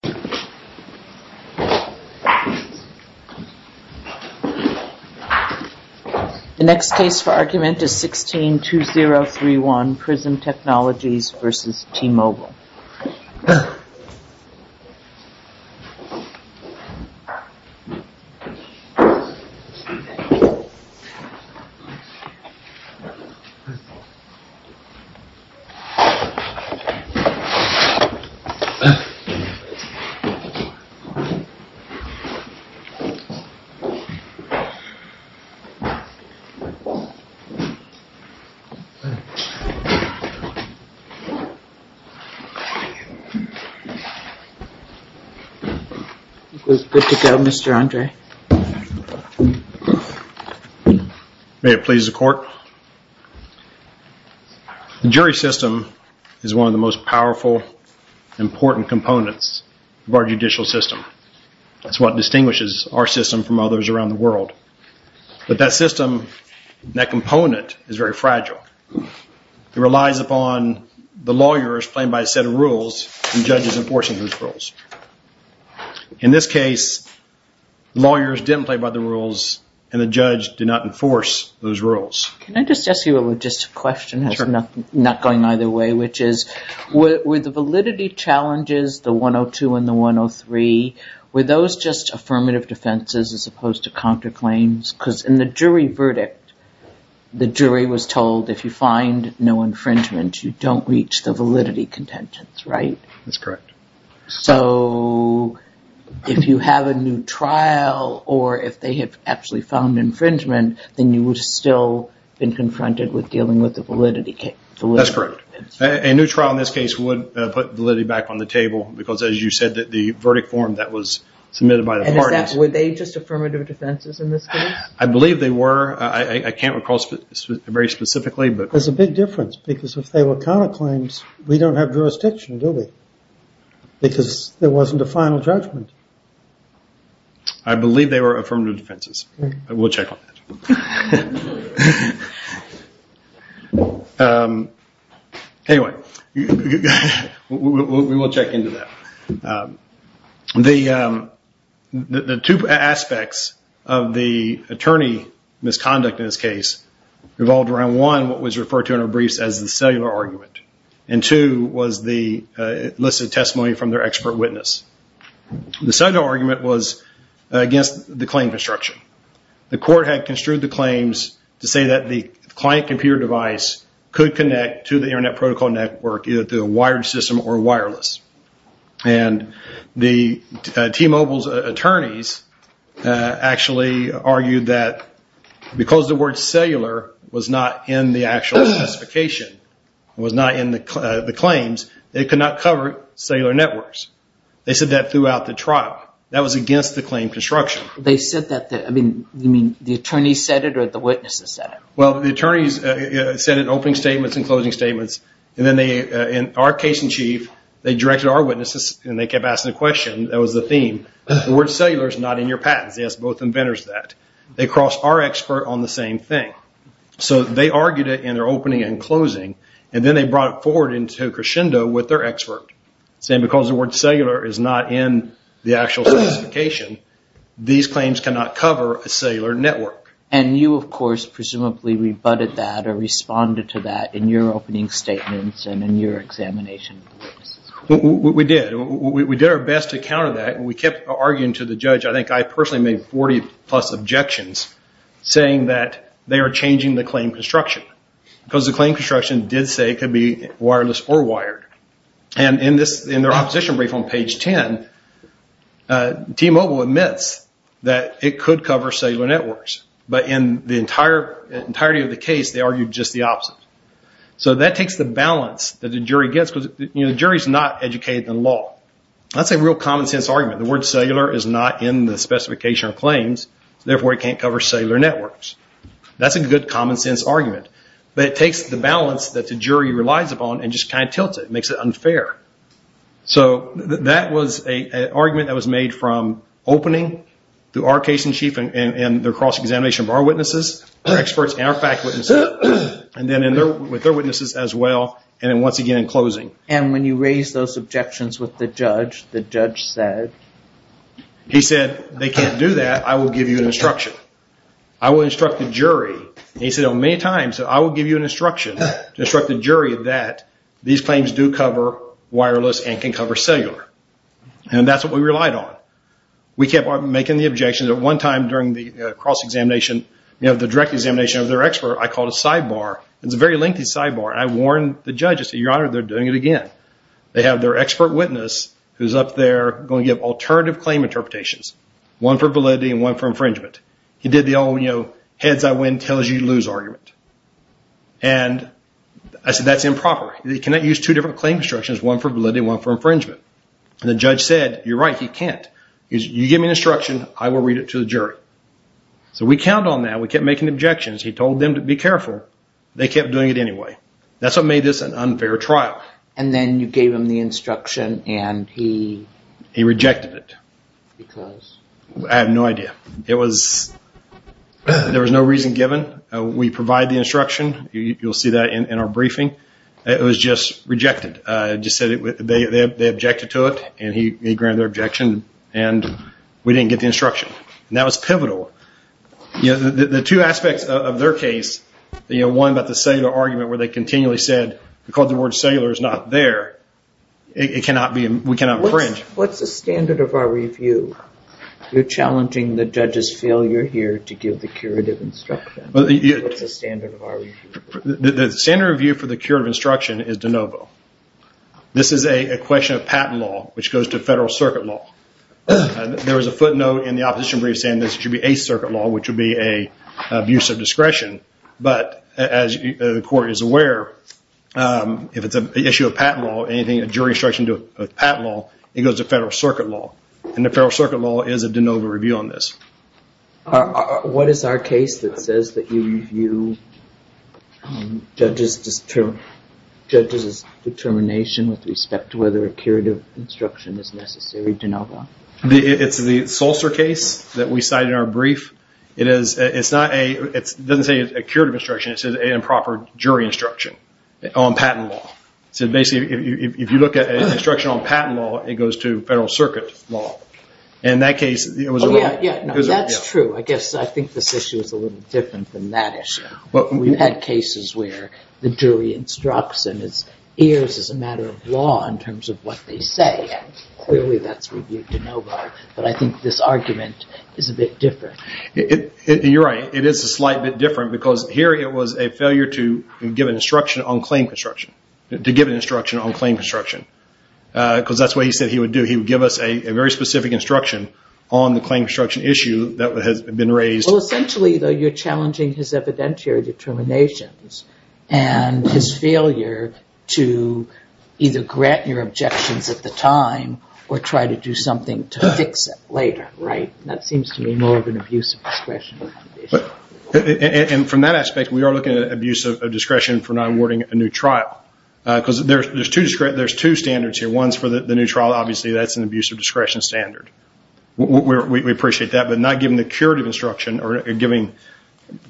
The next case for argument is 16-2031 Prism Technologies v. T-Mobile. May it please the court, the jury system is one of the most powerful, important components of our judicial system. That's what distinguishes our system from others around the world. But that system, that component, is very fragile. It relies upon the lawyers playing by a set of rules and judges enforcing those rules. In this case, lawyers didn't play by the rules and the judge did not enforce those rules. Can I just ask you a logistic question, not going either way, which is with the validity challenges, the 102 and the 103, were those just affirmative defenses as opposed to counterclaims? Because in the jury verdict, the jury was told if you find no infringement, you don't reach the validity contentions, right? That's correct. So if you have a new trial or if they have actually found infringement, then you would still have been confronted with dealing with the validity contentions. That's correct. A new trial in this case would put validity back on the table because as you said, the verdict form that was submitted by the parties. And were they just affirmative defenses in this case? I believe they were. I can't recall very specifically. That's a big difference because if they were counterclaims, we don't have jurisdiction, do we? Because there wasn't a final judgment. I believe they were affirmative defenses. We'll check on that. Anyway, we will check into that. The two aspects of the attorney misconduct in this case revolved around, one, what was referred to in our briefs as the cellular argument, and two, was the listed testimony from their expert witness. The cellular argument was against the claim construction. The court had construed the claims to say that the client computer device could connect to the internet protocol network either through a wired system or wireless. And the T-Mobile's attorneys actually argued that because the word cellular was not in the actual specification, it was not in the claims, they could not cover cellular networks. They said that throughout the trial. That was against the claim construction. They said that, you mean the attorneys said it or the witnesses said it? Well, the attorneys said it in opening statements and closing statements, and then they, in our case in chief, they directed our witnesses and they kept asking the question, that was the theme, the word cellular is not in your patents. They asked both inventors that. They crossed our expert on the same thing. So they argued it in their opening and closing, and then they brought it forward into a crescendo with their expert, saying because the word cellular is not in the actual specification, these claims cannot cover a cellular network. And you, of course, presumably rebutted that or responded to that in your opening statements and in your examination. We did. We did our best to counter that. We kept arguing to the judge. I think I personally made 40 plus objections saying that they are changing the claim construction because the claim construction did say it could be wireless or wired. And in their opposition brief on page 10, T-Mobile admits that it could cover cellular networks. But in the entirety of the case, they argued just the opposite. So that takes the balance that the jury gets because the jury is not educated in law. That's a real common sense argument. The word cellular is not in the specification of claims. Therefore, it can't cover cellular networks. That's a good common sense argument. But it takes the balance that the jury relies upon and just kind of tilts it. It makes it unfair. So that was an argument that was made from opening to our case in chief and the cross-examination of our witnesses, our experts, and our fact witnesses, and then with their witnesses as well, and then once again in closing. And when you raised those objections with the judge, the judge said? He said, they can't do that. I will give you an instruction. I will instruct the jury. And he said, oh, many times, I will give you an instruction to instruct the jury that these claims do cover wireless and can cover cellular. And that's what we relied on. We kept making the objections. At one time during the cross-examination, the direct examination of their expert, I called a sidebar. It was a very lengthy sidebar. I warned the judge. I said, your honor, they're doing it again. They have their expert witness who's up there going to give alternative claim interpretations, one for validity and one for infringement. He did the old, you know, heads I win, tails you lose argument. And I said, that's improper. You cannot use two different claim instructions, one for validity and one for infringement. And the judge said, you're right, he can't. You give me an instruction, I will read it to the jury. So we count on that. We kept making objections. He told them to be careful. They kept doing it anyway. That's what made this an unfair trial. And then you gave him the instruction and he... He rejected it. Because? I have no idea. It was, there was no reason given. We provide the instruction. You'll see that in our briefing. It was just rejected. It just said they objected to it and he granted their objection and we didn't get the instruction. That was pivotal. You know, the two aspects of their case, you know, one about the cellular argument where they continually said, because the word cellular is not there, it cannot be, we cannot infringe. What's the standard of our review? You're challenging the judge's failure here to give the curative instruction. What's the standard of our review? The standard review for the curative instruction is de novo. This is a question of patent law, which goes to federal circuit law. There was a footnote in the opposition brief saying this should be a circuit law, which would be an abuse of discretion. But as the court is aware, if it's an issue of patent law, anything, a jury instruction to a patent law, it goes to federal circuit law. And the federal circuit law is a de novo review on this. What is our case that says that you review judge's determination with respect to whether curative instruction is necessary, de novo? It's the Solcer case that we cited in our brief. It is, it's not a, it doesn't say a curative instruction, it says an improper jury instruction on patent law. So basically, if you look at an instruction on patent law, it goes to federal circuit law. In that case, it was a... Oh yeah, yeah. No, that's true. I guess, I think this issue is a little different than that issue. We've had cases where the jury instructs and it's, it's a matter of law in terms of what they say. Clearly, that's reviewed de novo, but I think this argument is a bit different. You're right. It is a slight bit different because here it was a failure to give an instruction on claim construction, to give an instruction on claim construction, because that's what he said he would do. He would give us a very specific instruction on the claim construction issue that has been raised. Well, essentially, though, you're challenging his evidentiary determinations and his failure to either grant your objections at the time or try to do something to fix it later, right? That seems to me more of an abuse of discretion. And from that aspect, we are looking at abuse of discretion for not awarding a new trial because there's two standards here. One's for the new trial. Obviously, that's an abuse of discretion standard. We appreciate that, but not giving the curative instruction or giving,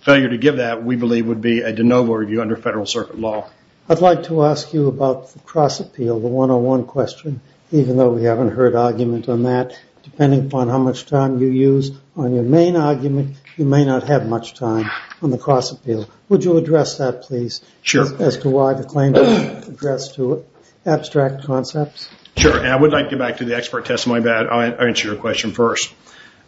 failure to give that, we believe would be a de novo review under federal circuit law. I'd like to ask you about the cross appeal, the one-on-one question, even though we haven't heard argument on that. Depending upon how much time you use on your main argument, you may not have much time on the cross appeal. Would you address that, please? Sure. As to why the claim was addressed to abstract concepts? Sure. And I would like to get back to the expert testimony, but I'll answer your question first.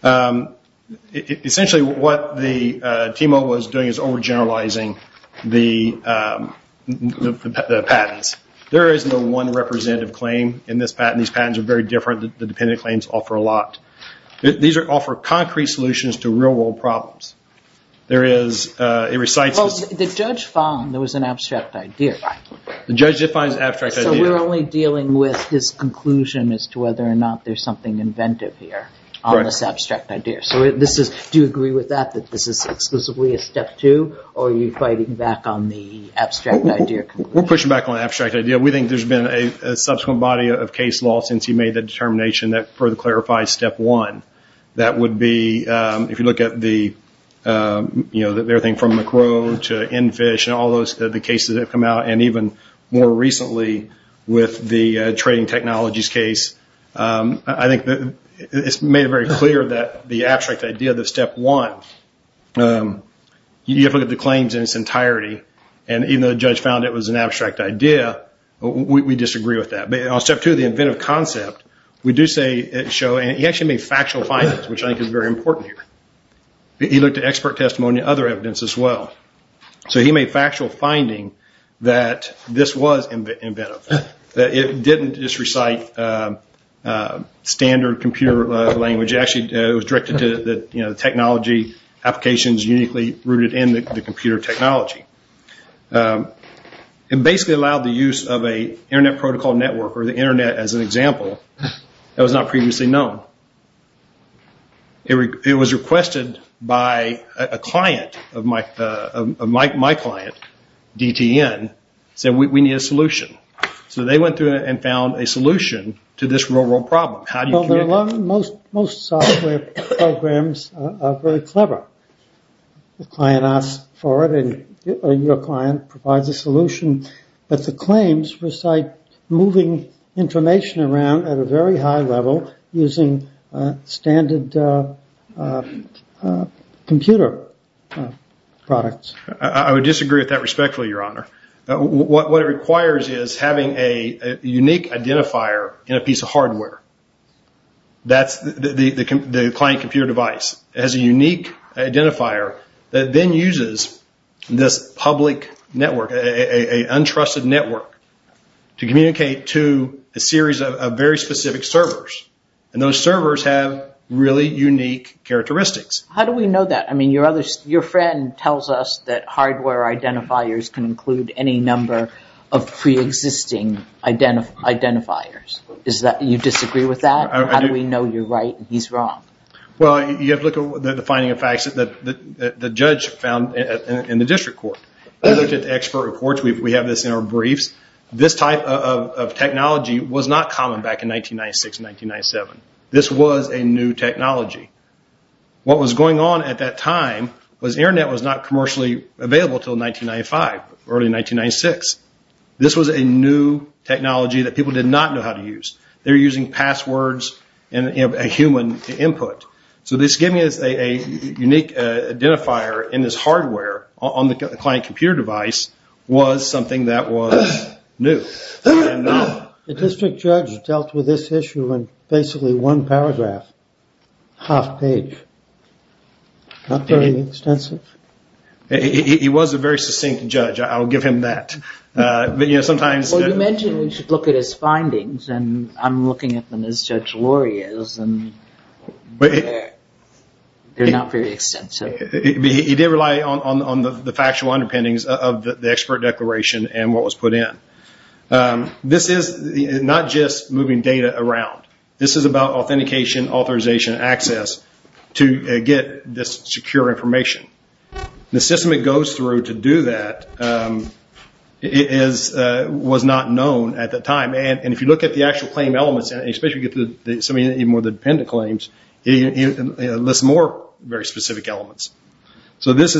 Essentially, what the TMO was doing is overgeneralizing the patents. There is no one representative claim in this patent. These patents are very different. The dependent claims offer a lot. These offer concrete solutions to real-world problems. There is, it recites... The judge found there was an abstract idea. The judge defines abstract idea. So we're only dealing with his conclusion as to whether or not there's something inventive here on this abstract idea. So do you agree with that, that this is exclusively a step two, or are you fighting back on the abstract idea? We're pushing back on the abstract idea. We think there's been a subsequent body of case law since he made the determination that further clarifies step one. That would be, if you look at the, you know, everything from McRow to Enfish and all the cases that have come out, and even more recently with the trading technologies case. I think it's made very clear that the abstract idea, that step one, you have to look at the claims in its entirety, and even though the judge found it was an abstract idea, we disagree with that. But on step two, the inventive concept, we do say it show, and he actually made factual findings, which I think is very important here. He looked at expert testimony and other evidence as well. So he made factual finding that this was inventive, that it didn't just recite standard computer language. Actually, it was directed to the technology applications uniquely rooted in the computer technology. It basically allowed the use of an internet protocol network, or the internet as an example, that was not previously known. It was requested by a client, my client, DTN, said we need a solution. So they went through and found a solution to this real world problem. Most software programs are very clever. The client asks for it, and your client provides a solution, but the claims recite moving information around at a very high level using standard computer products. I would disagree with that respectfully, your honor. What it requires is having a unique identifier in a piece of hardware. That's the client computer device. It has a unique identifier that then uses this public network, an untrusted network, to communicate to a series of very specific servers. Those servers have really unique characteristics. How do we know that? Your friend tells us that hardware identifiers can include any number of pre-existing identifiers. You disagree with that? How do we know you're right and he's wrong? Well, you have to look at the finding of facts that the judge found in the district court. We looked at the expert reports. We have this in our briefs. This type of technology was not common back in 1996, 1997. This was a new technology. What was going on at that time was internet was not commercially available until 1995, early 1996. This was a new technology that people did not know how to use. They were using passwords and a human input. This gave me a unique identifier in this hardware on the client computer device was something that was new. The district judge dealt with this issue in basically one paragraph, half page. Not very extensive. He was a very succinct judge. I'll give him that. You mentioned we should look at his findings. I'm looking at them as Judge Lurie is. They're not very extensive. He did rely on the factual underpinnings of the expert declaration and what was put in. This is not just moving data around. This is about authentication, authorization, and access to get this secure information. The system it goes through to do that was not known at the time. If you look at the actual claim elements, especially with the dependent claims, it lists more very specific elements. If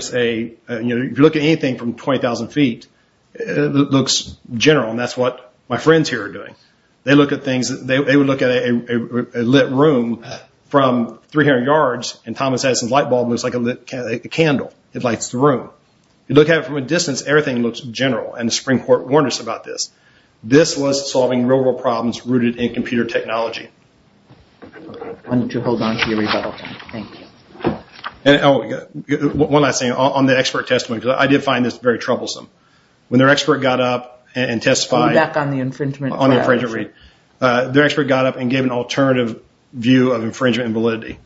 you look at anything from 20,000 feet, it looks general. That's what my friends here are doing. They would look at a lit room from 300 yards and Thomas Edison's light bulb looks like a candle. It lights the room. If you look at it from a distance, everything looks general. The Supreme Court warned us about this. This was solving real-world problems rooted in computer technology. Why don't you hold on to your rebuttal. Thank you. One last thing. On the expert testimony, I did find this very troublesome. When their expert got up and testified, their expert got up and gave an alternative view of infringement and validity.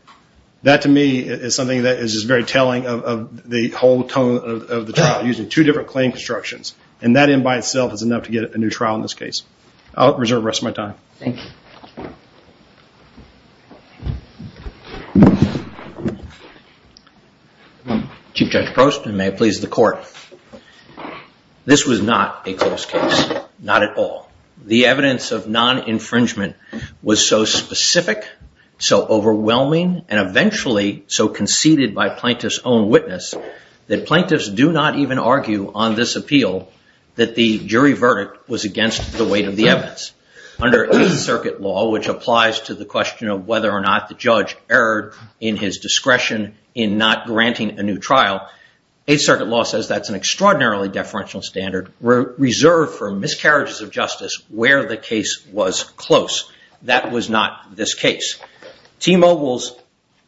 That, to me, is something that is very telling of the whole tone of the trial, using two different claim constructions. That in by itself is enough to get a new trial in this case. I'll reserve the rest of my time. Thank you. Chief Judge Prost and may it please the court. This was not a close case, not at all. The evidence of non-infringement was so specific, so overwhelming, and eventually so conceded by plaintiff's own witness that plaintiffs do not even argue on this appeal that the jury verdict was against the weight of the evidence. Under Eighth Circuit law, which applies to the question of whether or not the judge erred in his discretion in not granting a new trial, Eighth Circuit law says that's an extraordinarily deferential standard reserved for miscarriages of justice where the case was close. That was not this case. T-Mobile's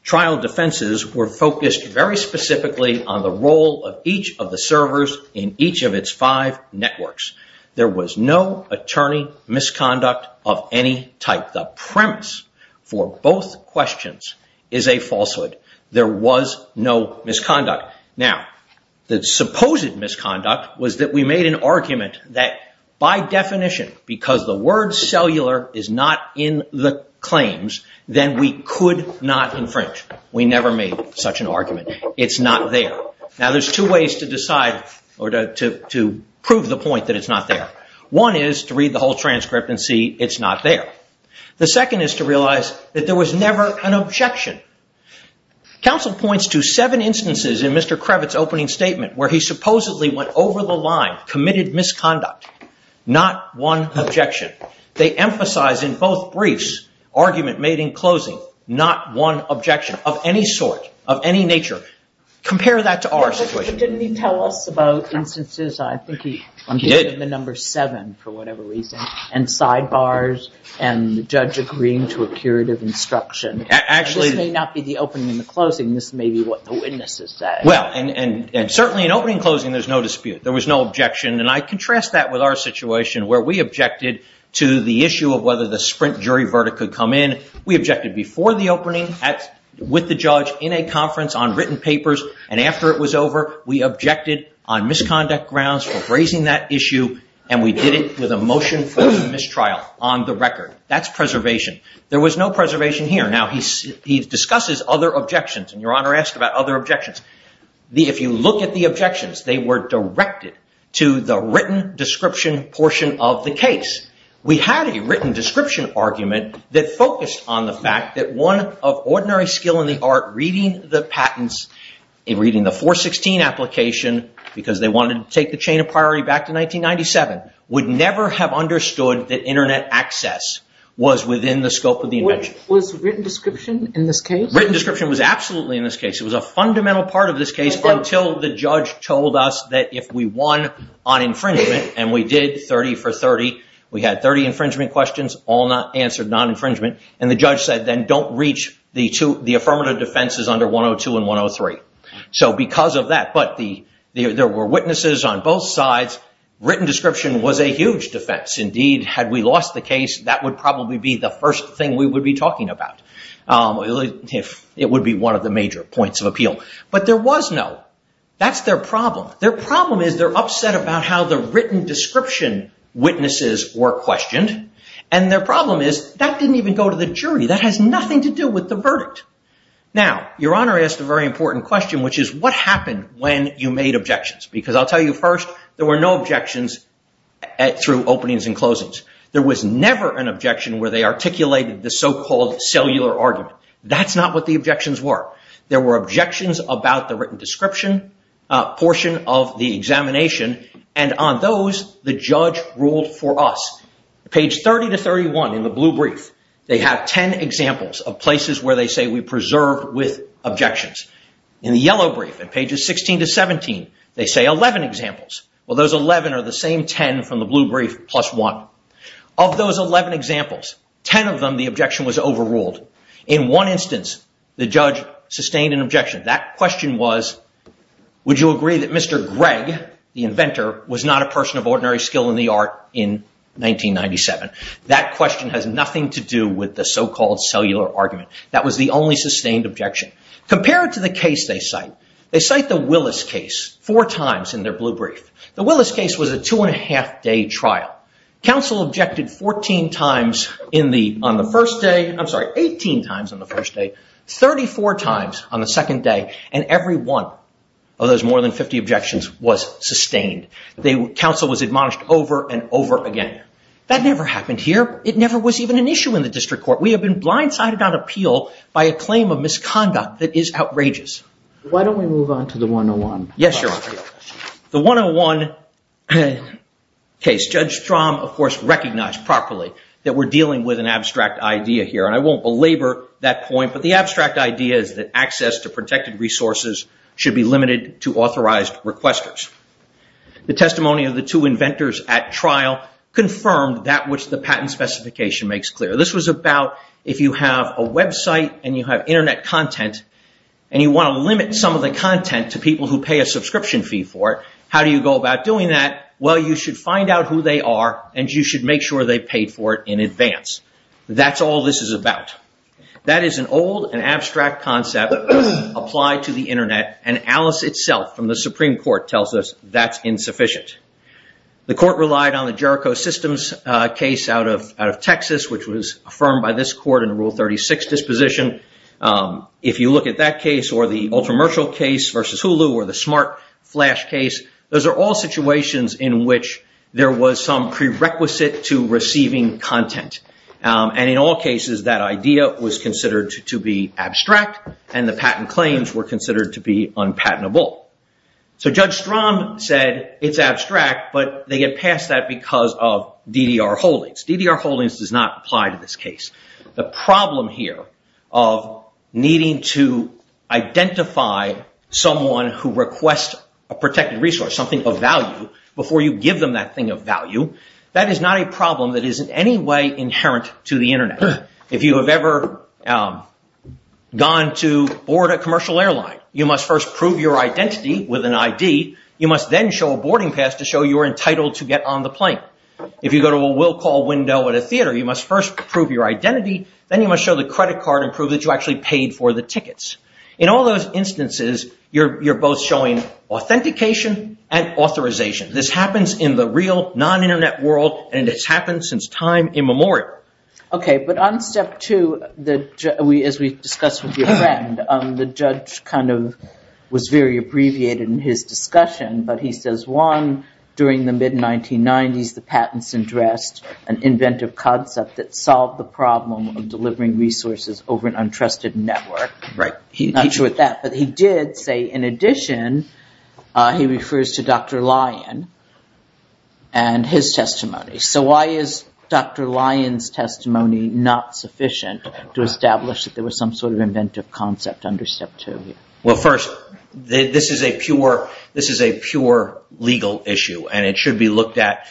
trial defenses were focused very specifically on the role of each of the servers in each of its five networks. There was no attorney misconduct of any type. The premise for both questions is a falsehood. There was no misconduct. Now, the supposed misconduct was that we made an argument that by definition, because the word cellular is not in the claims, then we could not infringe. We never made such an argument. It's not there. Now, there's two ways to decide or to prove the point that it's not there. One is to read the whole transcript and see it's not there. The second is to realize that there was never an objection. Counsel points to seven instances in Mr. Kravitz' opening statement where he supposedly went over the line, committed misconduct. Not one objection. They emphasize in both briefs, argument made in closing, not one objection of any sort, of any nature. Compare that to our situation. Didn't he tell us about instances, I think he did, the number seven for whatever reason, and sidebars and the judge agreeing to a curative instruction. This may not be the opening and the closing. This may be what the witnesses say. Well, and certainly in opening and closing, there's no dispute. There was no objection. And I contrast that with our situation where we objected to the issue of whether the sprint jury verdict could come in. We objected before the opening with the judge in a conference on written papers. And after it was over, we objected on misconduct grounds for raising that issue, and we did it with a motion for mistrial on the record. That's preservation. There was no preservation here. Now, he discusses other objections. And Your Honor asked about other objections. If you look at the objections, they were directed to the written description portion of the case. We had a written description argument that focused on the fact that one of ordinary skill in the art, reading the patents, reading the 416 application, because they wanted to take the chain of priority back to 1997, would never have understood that internet access was within the scope of the invention. Was written description in this case? Written description was absolutely in this case. It was a fundamental part of this case until the judge told us that if we won on infringement, and we did 30 for 30, we had 30 infringement questions, all answered non-infringement. And the judge said, then, don't reach the affirmative defenses under 102 and 103. So because of that, but there were witnesses on both sides. Written description was a huge defense. Indeed, had we lost the case, that would probably be the first thing we would be talking about. It would be one of the major points of appeal. But there was no. That's their problem. Their problem is they're upset about how the written description witnesses were questioned. And their problem is that didn't even go to the jury. That has nothing to do with the verdict. Now, Your Honor asked a very important question, which is, what happened when you made objections? Because I'll tell you first, there were no objections through openings and closings. There was never an objection where they articulated the so-called cellular argument. That's not what the objections were. There were objections about the written description portion of the examination. And on those, the judge ruled for us. Page 30 to 31 in the blue brief, they have 10 examples of places where they say we preserved with objections. In the yellow brief, in pages 16 to 17, they say 11 examples. Well, those 11 are the same 10 from the blue brief plus one. Of those 11 examples, 10 of them the objection was overruled. In one instance, the judge sustained an objection. That question was, would you agree that Mr. Gregg, the inventor, was not a person of ordinary skill in the art in 1997? That question has nothing to do with the so-called cellular argument. That was the only sustained objection. Compared to the case they cite, they cite the Willis case four times in their blue brief. The Willis case was a two-and-a-half-day trial. Counsel objected 14 times on the first day. I'm sorry, 18 times on the first day, 34 times on the second day. And every one of those more than 50 objections was sustained. Counsel was admonished over and over again. That never happened here. It never was even an issue in the district court. We have been blindsided on appeal by a claim of misconduct that is outrageous. Why don't we move on to the 101? Yes, sir. The 101 case, Judge Strahm, of course, recognized properly that we're dealing with an abstract idea here. And I won't belabor that point, but the abstract idea is that access to protected resources should be limited to authorized requesters. The testimony of the two inventors at trial confirmed that which the patent specification makes clear. This was about if you have a website and you have Internet content and you want to limit some of the content to people who pay a subscription fee for it, how do you go about doing that? Well, you should find out who they are and you should make sure they paid for it in advance. That's all this is about. That is an old and abstract concept applied to the Internet, and Alice itself from the Supreme Court tells us that's insufficient. The court relied on the Jericho Systems case out of Texas, which was affirmed by this court in Rule 36 disposition. If you look at that case or the ultra-mercial case versus Hulu or the smart flash case, those are all situations in which there was some prerequisite to receiving content. And in all cases, that idea was considered to be abstract and the patent claims were considered to be unpatentable. So Judge Strom said it's abstract, but they get past that because of DDR holdings. DDR holdings does not apply to this case. The problem here of needing to identify someone who requests a protected resource, something of value, before you give them that thing of value, that is not a problem that is in any way inherent to the Internet. If you have ever gone to board a commercial airline, you must first prove your identity with an ID. You must then show a boarding pass to show you are entitled to get on the plane. If you go to a will call window at a theater, you must first prove your identity, then you must show the credit card and prove that you actually paid for the tickets. In all those instances, you're both showing authentication and authorization. This happens in the real non-Internet world and it's happened since time immemorial. Okay, but on step two, as we discussed with your friend, the judge kind of was very abbreviated in his discussion, but he says one, during the mid-1990s, the patents addressed an inventive concept that solved the problem of delivering resources over an untrusted network. Right. Not sure what that, but he did say in addition, he refers to Dr. Lyon and his testimony. Okay, so why is Dr. Lyon's testimony not sufficient to establish that there was some sort of inventive concept under step two? Well, first, this is a pure legal issue and it should be looked at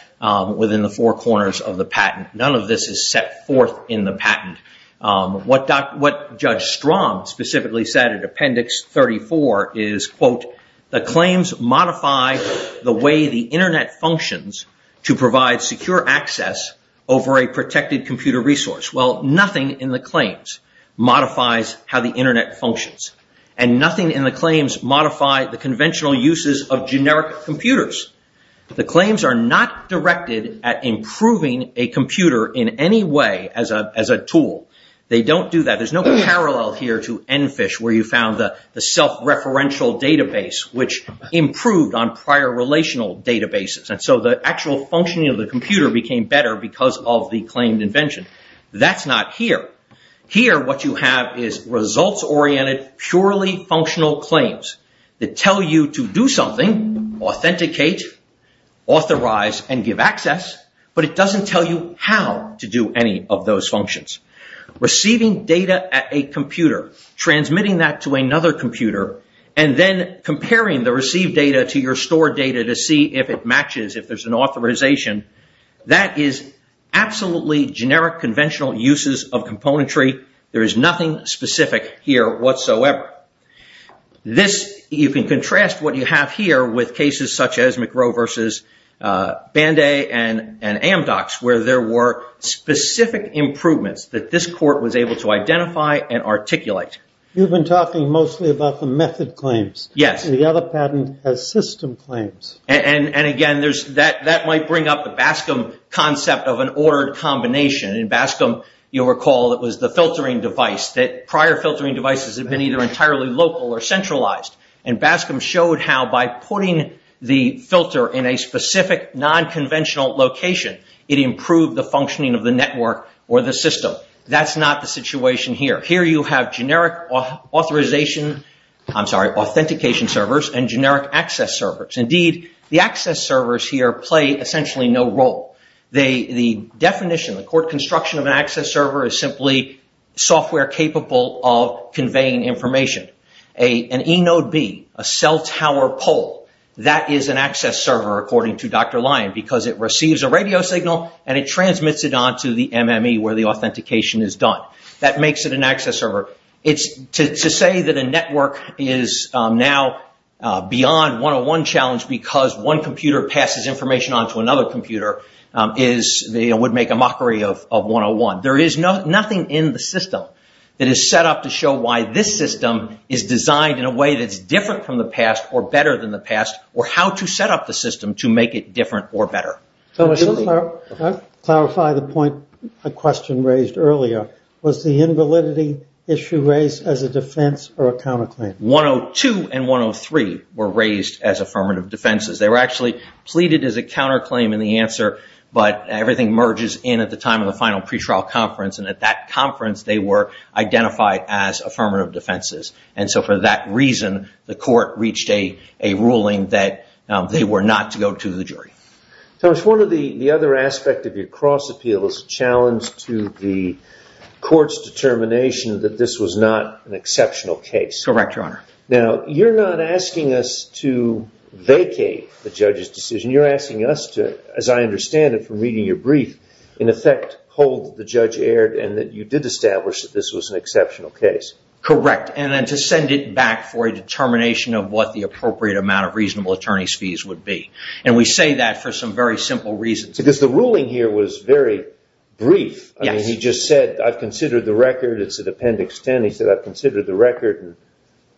within the four corners of the patent. None of this is set forth in the patent. What Judge Strom specifically said in Appendix 34 is, quote, the claims modify the way the Internet functions to provide secure access over a protected computer resource. Well, nothing in the claims modifies how the Internet functions. And nothing in the claims modify the conventional uses of generic computers. The claims are not directed at improving a computer in any way as a tool. They don't do that. There's no parallel here to EnFish, where you found the self-referential database, which improved on prior relational databases. And so the actual functioning of the computer became better because of the claimed invention. That's not here. Here, what you have is results-oriented, purely functional claims that tell you to do something, authenticate, authorize, and give access, but it doesn't tell you how to do any of those functions. Receiving data at a computer, transmitting that to another computer, and then comparing the received data to your stored data to see if it matches, if there's an authorization, that is absolutely generic conventional uses of componentry. There is nothing specific here whatsoever. You can contrast what you have here with cases such as McRow v. Banday and Amdocs, where there were specific improvements that this court was able to identify and articulate. You've been talking mostly about the method claims. Yes. The other patent has system claims. And again, that might bring up the Bascom concept of an ordered combination. In Bascom, you'll recall it was the filtering device, that prior filtering devices had been either entirely local or centralized. And Bascom showed how by putting the filter in a specific non-conventional location, it improved the functioning of the network or the system. That's not the situation here. Here you have generic authentication servers and generic access servers. Indeed, the access servers here play essentially no role. The definition, the court construction of an access server, is simply software capable of conveying information. An eNodeB, a cell tower pole, that is an access server, according to Dr. Lyon, because it receives a radio signal and it transmits it onto the MME, where the authentication is done. That makes it an access server. To say that a network is now beyond one-on-one challenge because one computer passes information onto another computer, would make a mockery of one-on-one. There is nothing in the system that is set up to show why this system is designed in a way that's different from the past or better than the past or how to set up the system to make it different or better. Clarify the point the question raised earlier. Was the invalidity issue raised as a defense or a counterclaim? 102 and 103 were raised as affirmative defenses. They were actually pleaded as a counterclaim in the answer, but everything merges in at the time of the final pretrial conference. At that conference, they were identified as affirmative defenses. For that reason, the court reached a ruling that they were not to go to the jury. Thomas, one of the other aspects of your cross-appeal is a challenge to the court's determination that this was not an exceptional case. Correct, Your Honor. Now, you're not asking us to vacate the judge's decision. You're asking us to, as I understand it from reading your brief, in effect hold that the judge erred and that you did establish that this was an exceptional case. Correct, and then to send it back for a determination of what the appropriate amount of reasonable attorney's fees would be. We say that for some very simple reasons. Because the ruling here was very brief. He just said, I've considered the record. It's at Appendix 10. He said, I've considered the record.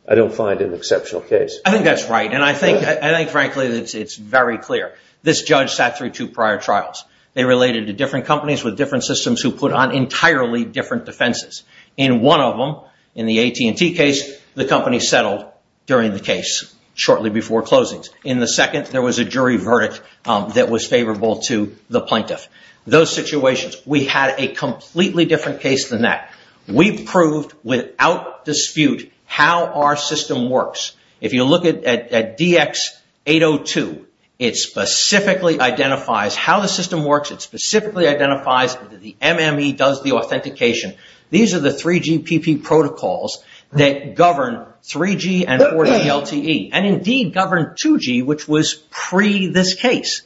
I don't find it an exceptional case. I think that's right. And I think, frankly, that it's very clear. This judge sat through two prior trials. They related to different companies with different systems who put on entirely different defenses. In one of them, in the AT&T case, the company settled during the case, shortly before closings. In the second, there was a jury verdict that was favorable to the plaintiff. Those situations, we had a completely different case than that. We proved, without dispute, how our system works. If you look at DX802, it specifically identifies how the system works. It specifically identifies that the MME does the authentication. These are the 3GPP protocols that govern 3G and 4G LTE. And, indeed, govern 2G, which was pre this case.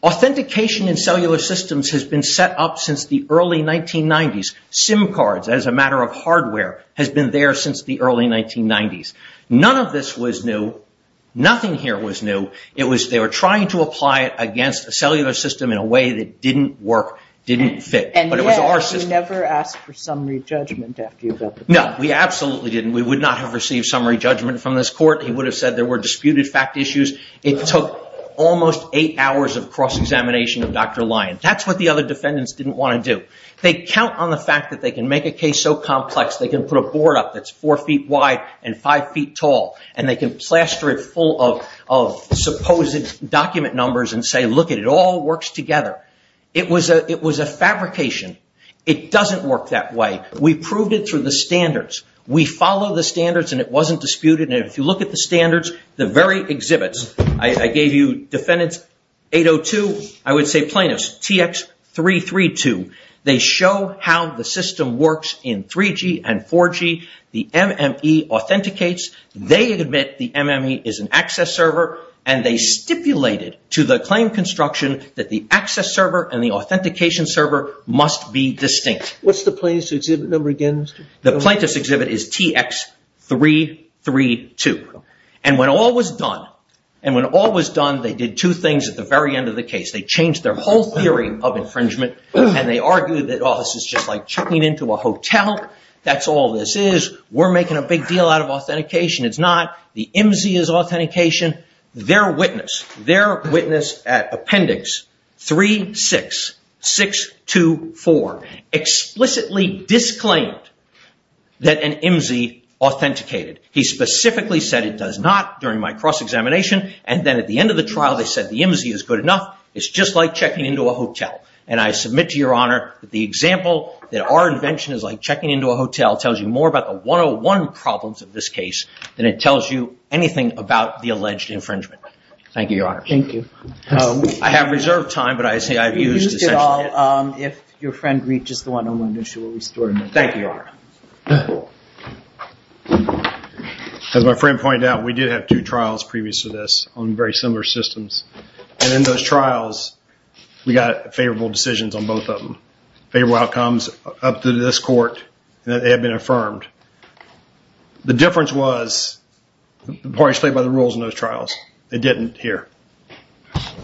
Authentication in cellular systems has been set up since the early 1990s. SIM cards, as a matter of hardware, has been there since the early 1990s. None of this was new. Nothing here was new. They were trying to apply it against a cellular system in a way that didn't work, didn't fit. And yet, you never asked for summary judgment after you built the court. No, we absolutely didn't. We would not have received summary judgment from this court. He would have said there were disputed fact issues. It took almost eight hours of cross-examination of Dr. Lyon. That's what the other defendants didn't want to do. They count on the fact that they can make a case so complex, they can put a board up that's four feet wide and five feet tall, and they can plaster it full of supposed document numbers and say, look, it all works together. It was a fabrication. It doesn't work that way. We proved it through the standards. We follow the standards, and it wasn't disputed. And if you look at the standards, the very exhibits, I gave you defendants 802. I would say plaintiffs, TX332. They show how the system works in 3G and 4G. The MME authenticates. They admit the MME is an access server, and they stipulated to the claim construction that the access server and the authentication server must be distinct. What's the plaintiff's exhibit number again? The plaintiff's exhibit is TX332. And when all was done, and when all was done, they did two things at the very end of the case. They changed their whole theory of infringement, and they argued that, oh, this is just like checking into a hotel. That's all this is. We're making a big deal out of authentication. It's not. The MME is authentication. Their witness, their witness at appendix 36624, explicitly disclaimed that an MME authenticated. He specifically said it does not during my cross-examination, and then at the end of the trial they said the MME is good enough. It's just like checking into a hotel. And I submit to Your Honor that the example that our invention is like checking into a hotel tells you more about the 101 problems of this case than it tells you anything about the alleged infringement. Thank you, Your Honor. Thank you. I have reserved time, but I say I've used essentially it. You can use it all if your friend reaches the 101, and she will restore it. Thank you, Your Honor. As my friend pointed out, we did have two trials previous to this on very similar systems. And in those trials we got favorable decisions on both of them, favorable outcomes up to this court that they had been affirmed. The difference was the parties played by the rules in those trials. They didn't here.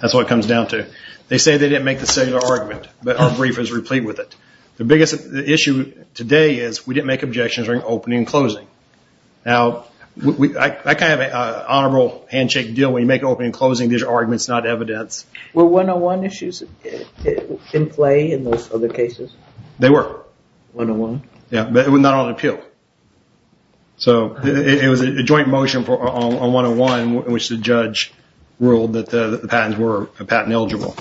That's what it comes down to. They say they didn't make the cellular argument, but our brief is replete with it. The issue today is we didn't make objections during opening and closing. Now, I kind of have an honorable handshake deal. When you make an opening and closing, these are arguments, not evidence. Were 101 issues in play in those other cases? They were. 101? Yeah, but not on appeal. So it was a joint motion on 101 in which the judge ruled that the patents were patent eligible.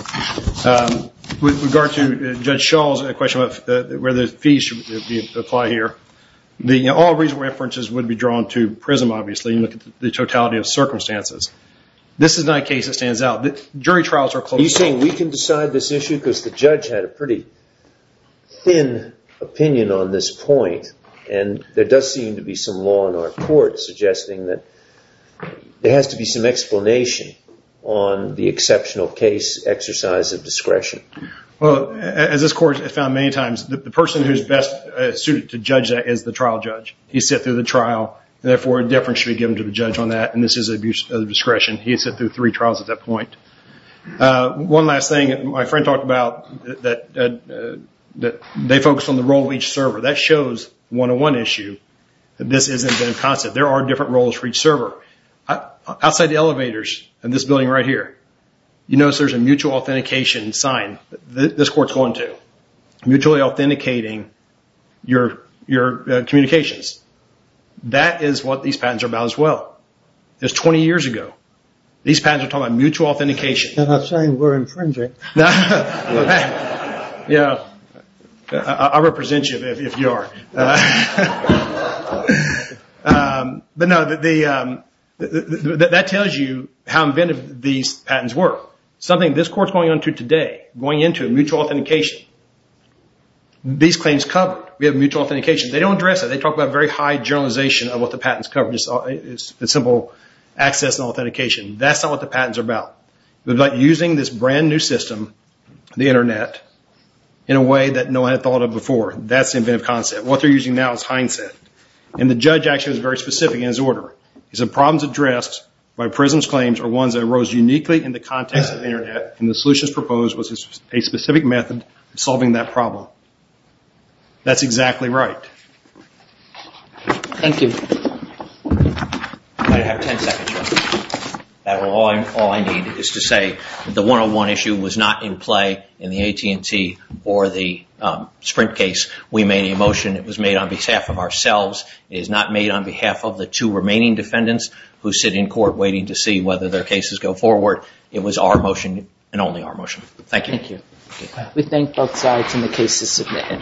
With regard to Judge Schall's question about whether the fees should apply here, all reasonable references would be drawn to PRISM, obviously, and look at the totality of circumstances. This is not a case that stands out. Jury trials are closed cases. You're saying we can decide this issue because the judge had a pretty thin opinion on this point, and there does seem to be some law in our court suggesting that there has to be some explanation on the exceptional case exercise of discretion. Well, as this court has found many times, the person who's best suited to judge that is the trial judge. He sat through the trial, and therefore a difference should be given to the judge on that, and this is abuse of discretion. He sat through three trials at that point. One last thing. My friend talked about that they focus on the role of each server. That shows 101 issue that this isn't a concept. There are different roles for each server. Outside the elevators in this building right here, you notice there's a mutual authentication sign. This court's going to. Mutually authenticating your communications. That is what these patents are about as well. This is 20 years ago. These patents are talking about mutual authentication. I'm not saying we're infringing. I'll represent you if you are. That tells you how inventive these patents were. Something this court's going into today, going into mutual authentication. These claims cover. We have mutual authentication. They don't address it. They talk about very high generalization of what the patents cover. It's simple access and authentication. That's not what the patents are about. They're about using this brand-new system, the Internet, in a way that no one had thought of before. That's the inventive concept. and the judge actually was very specific in his order. He said, The problems addressed by PRISM's claims are ones that arose uniquely in the context of the Internet, and the solutions proposed was a specific method of solving that problem. That's exactly right. Thank you. I have ten seconds. All I need is to say the 101 issue was not in play in the AT&T or the Sprint case. We made a motion. It was made on behalf of ourselves. It is not made on behalf of the two remaining defendants who sit in court waiting to see whether their cases go forward. It was our motion and only our motion. Thank you. Thank you. We thank both sides and the cases submitted.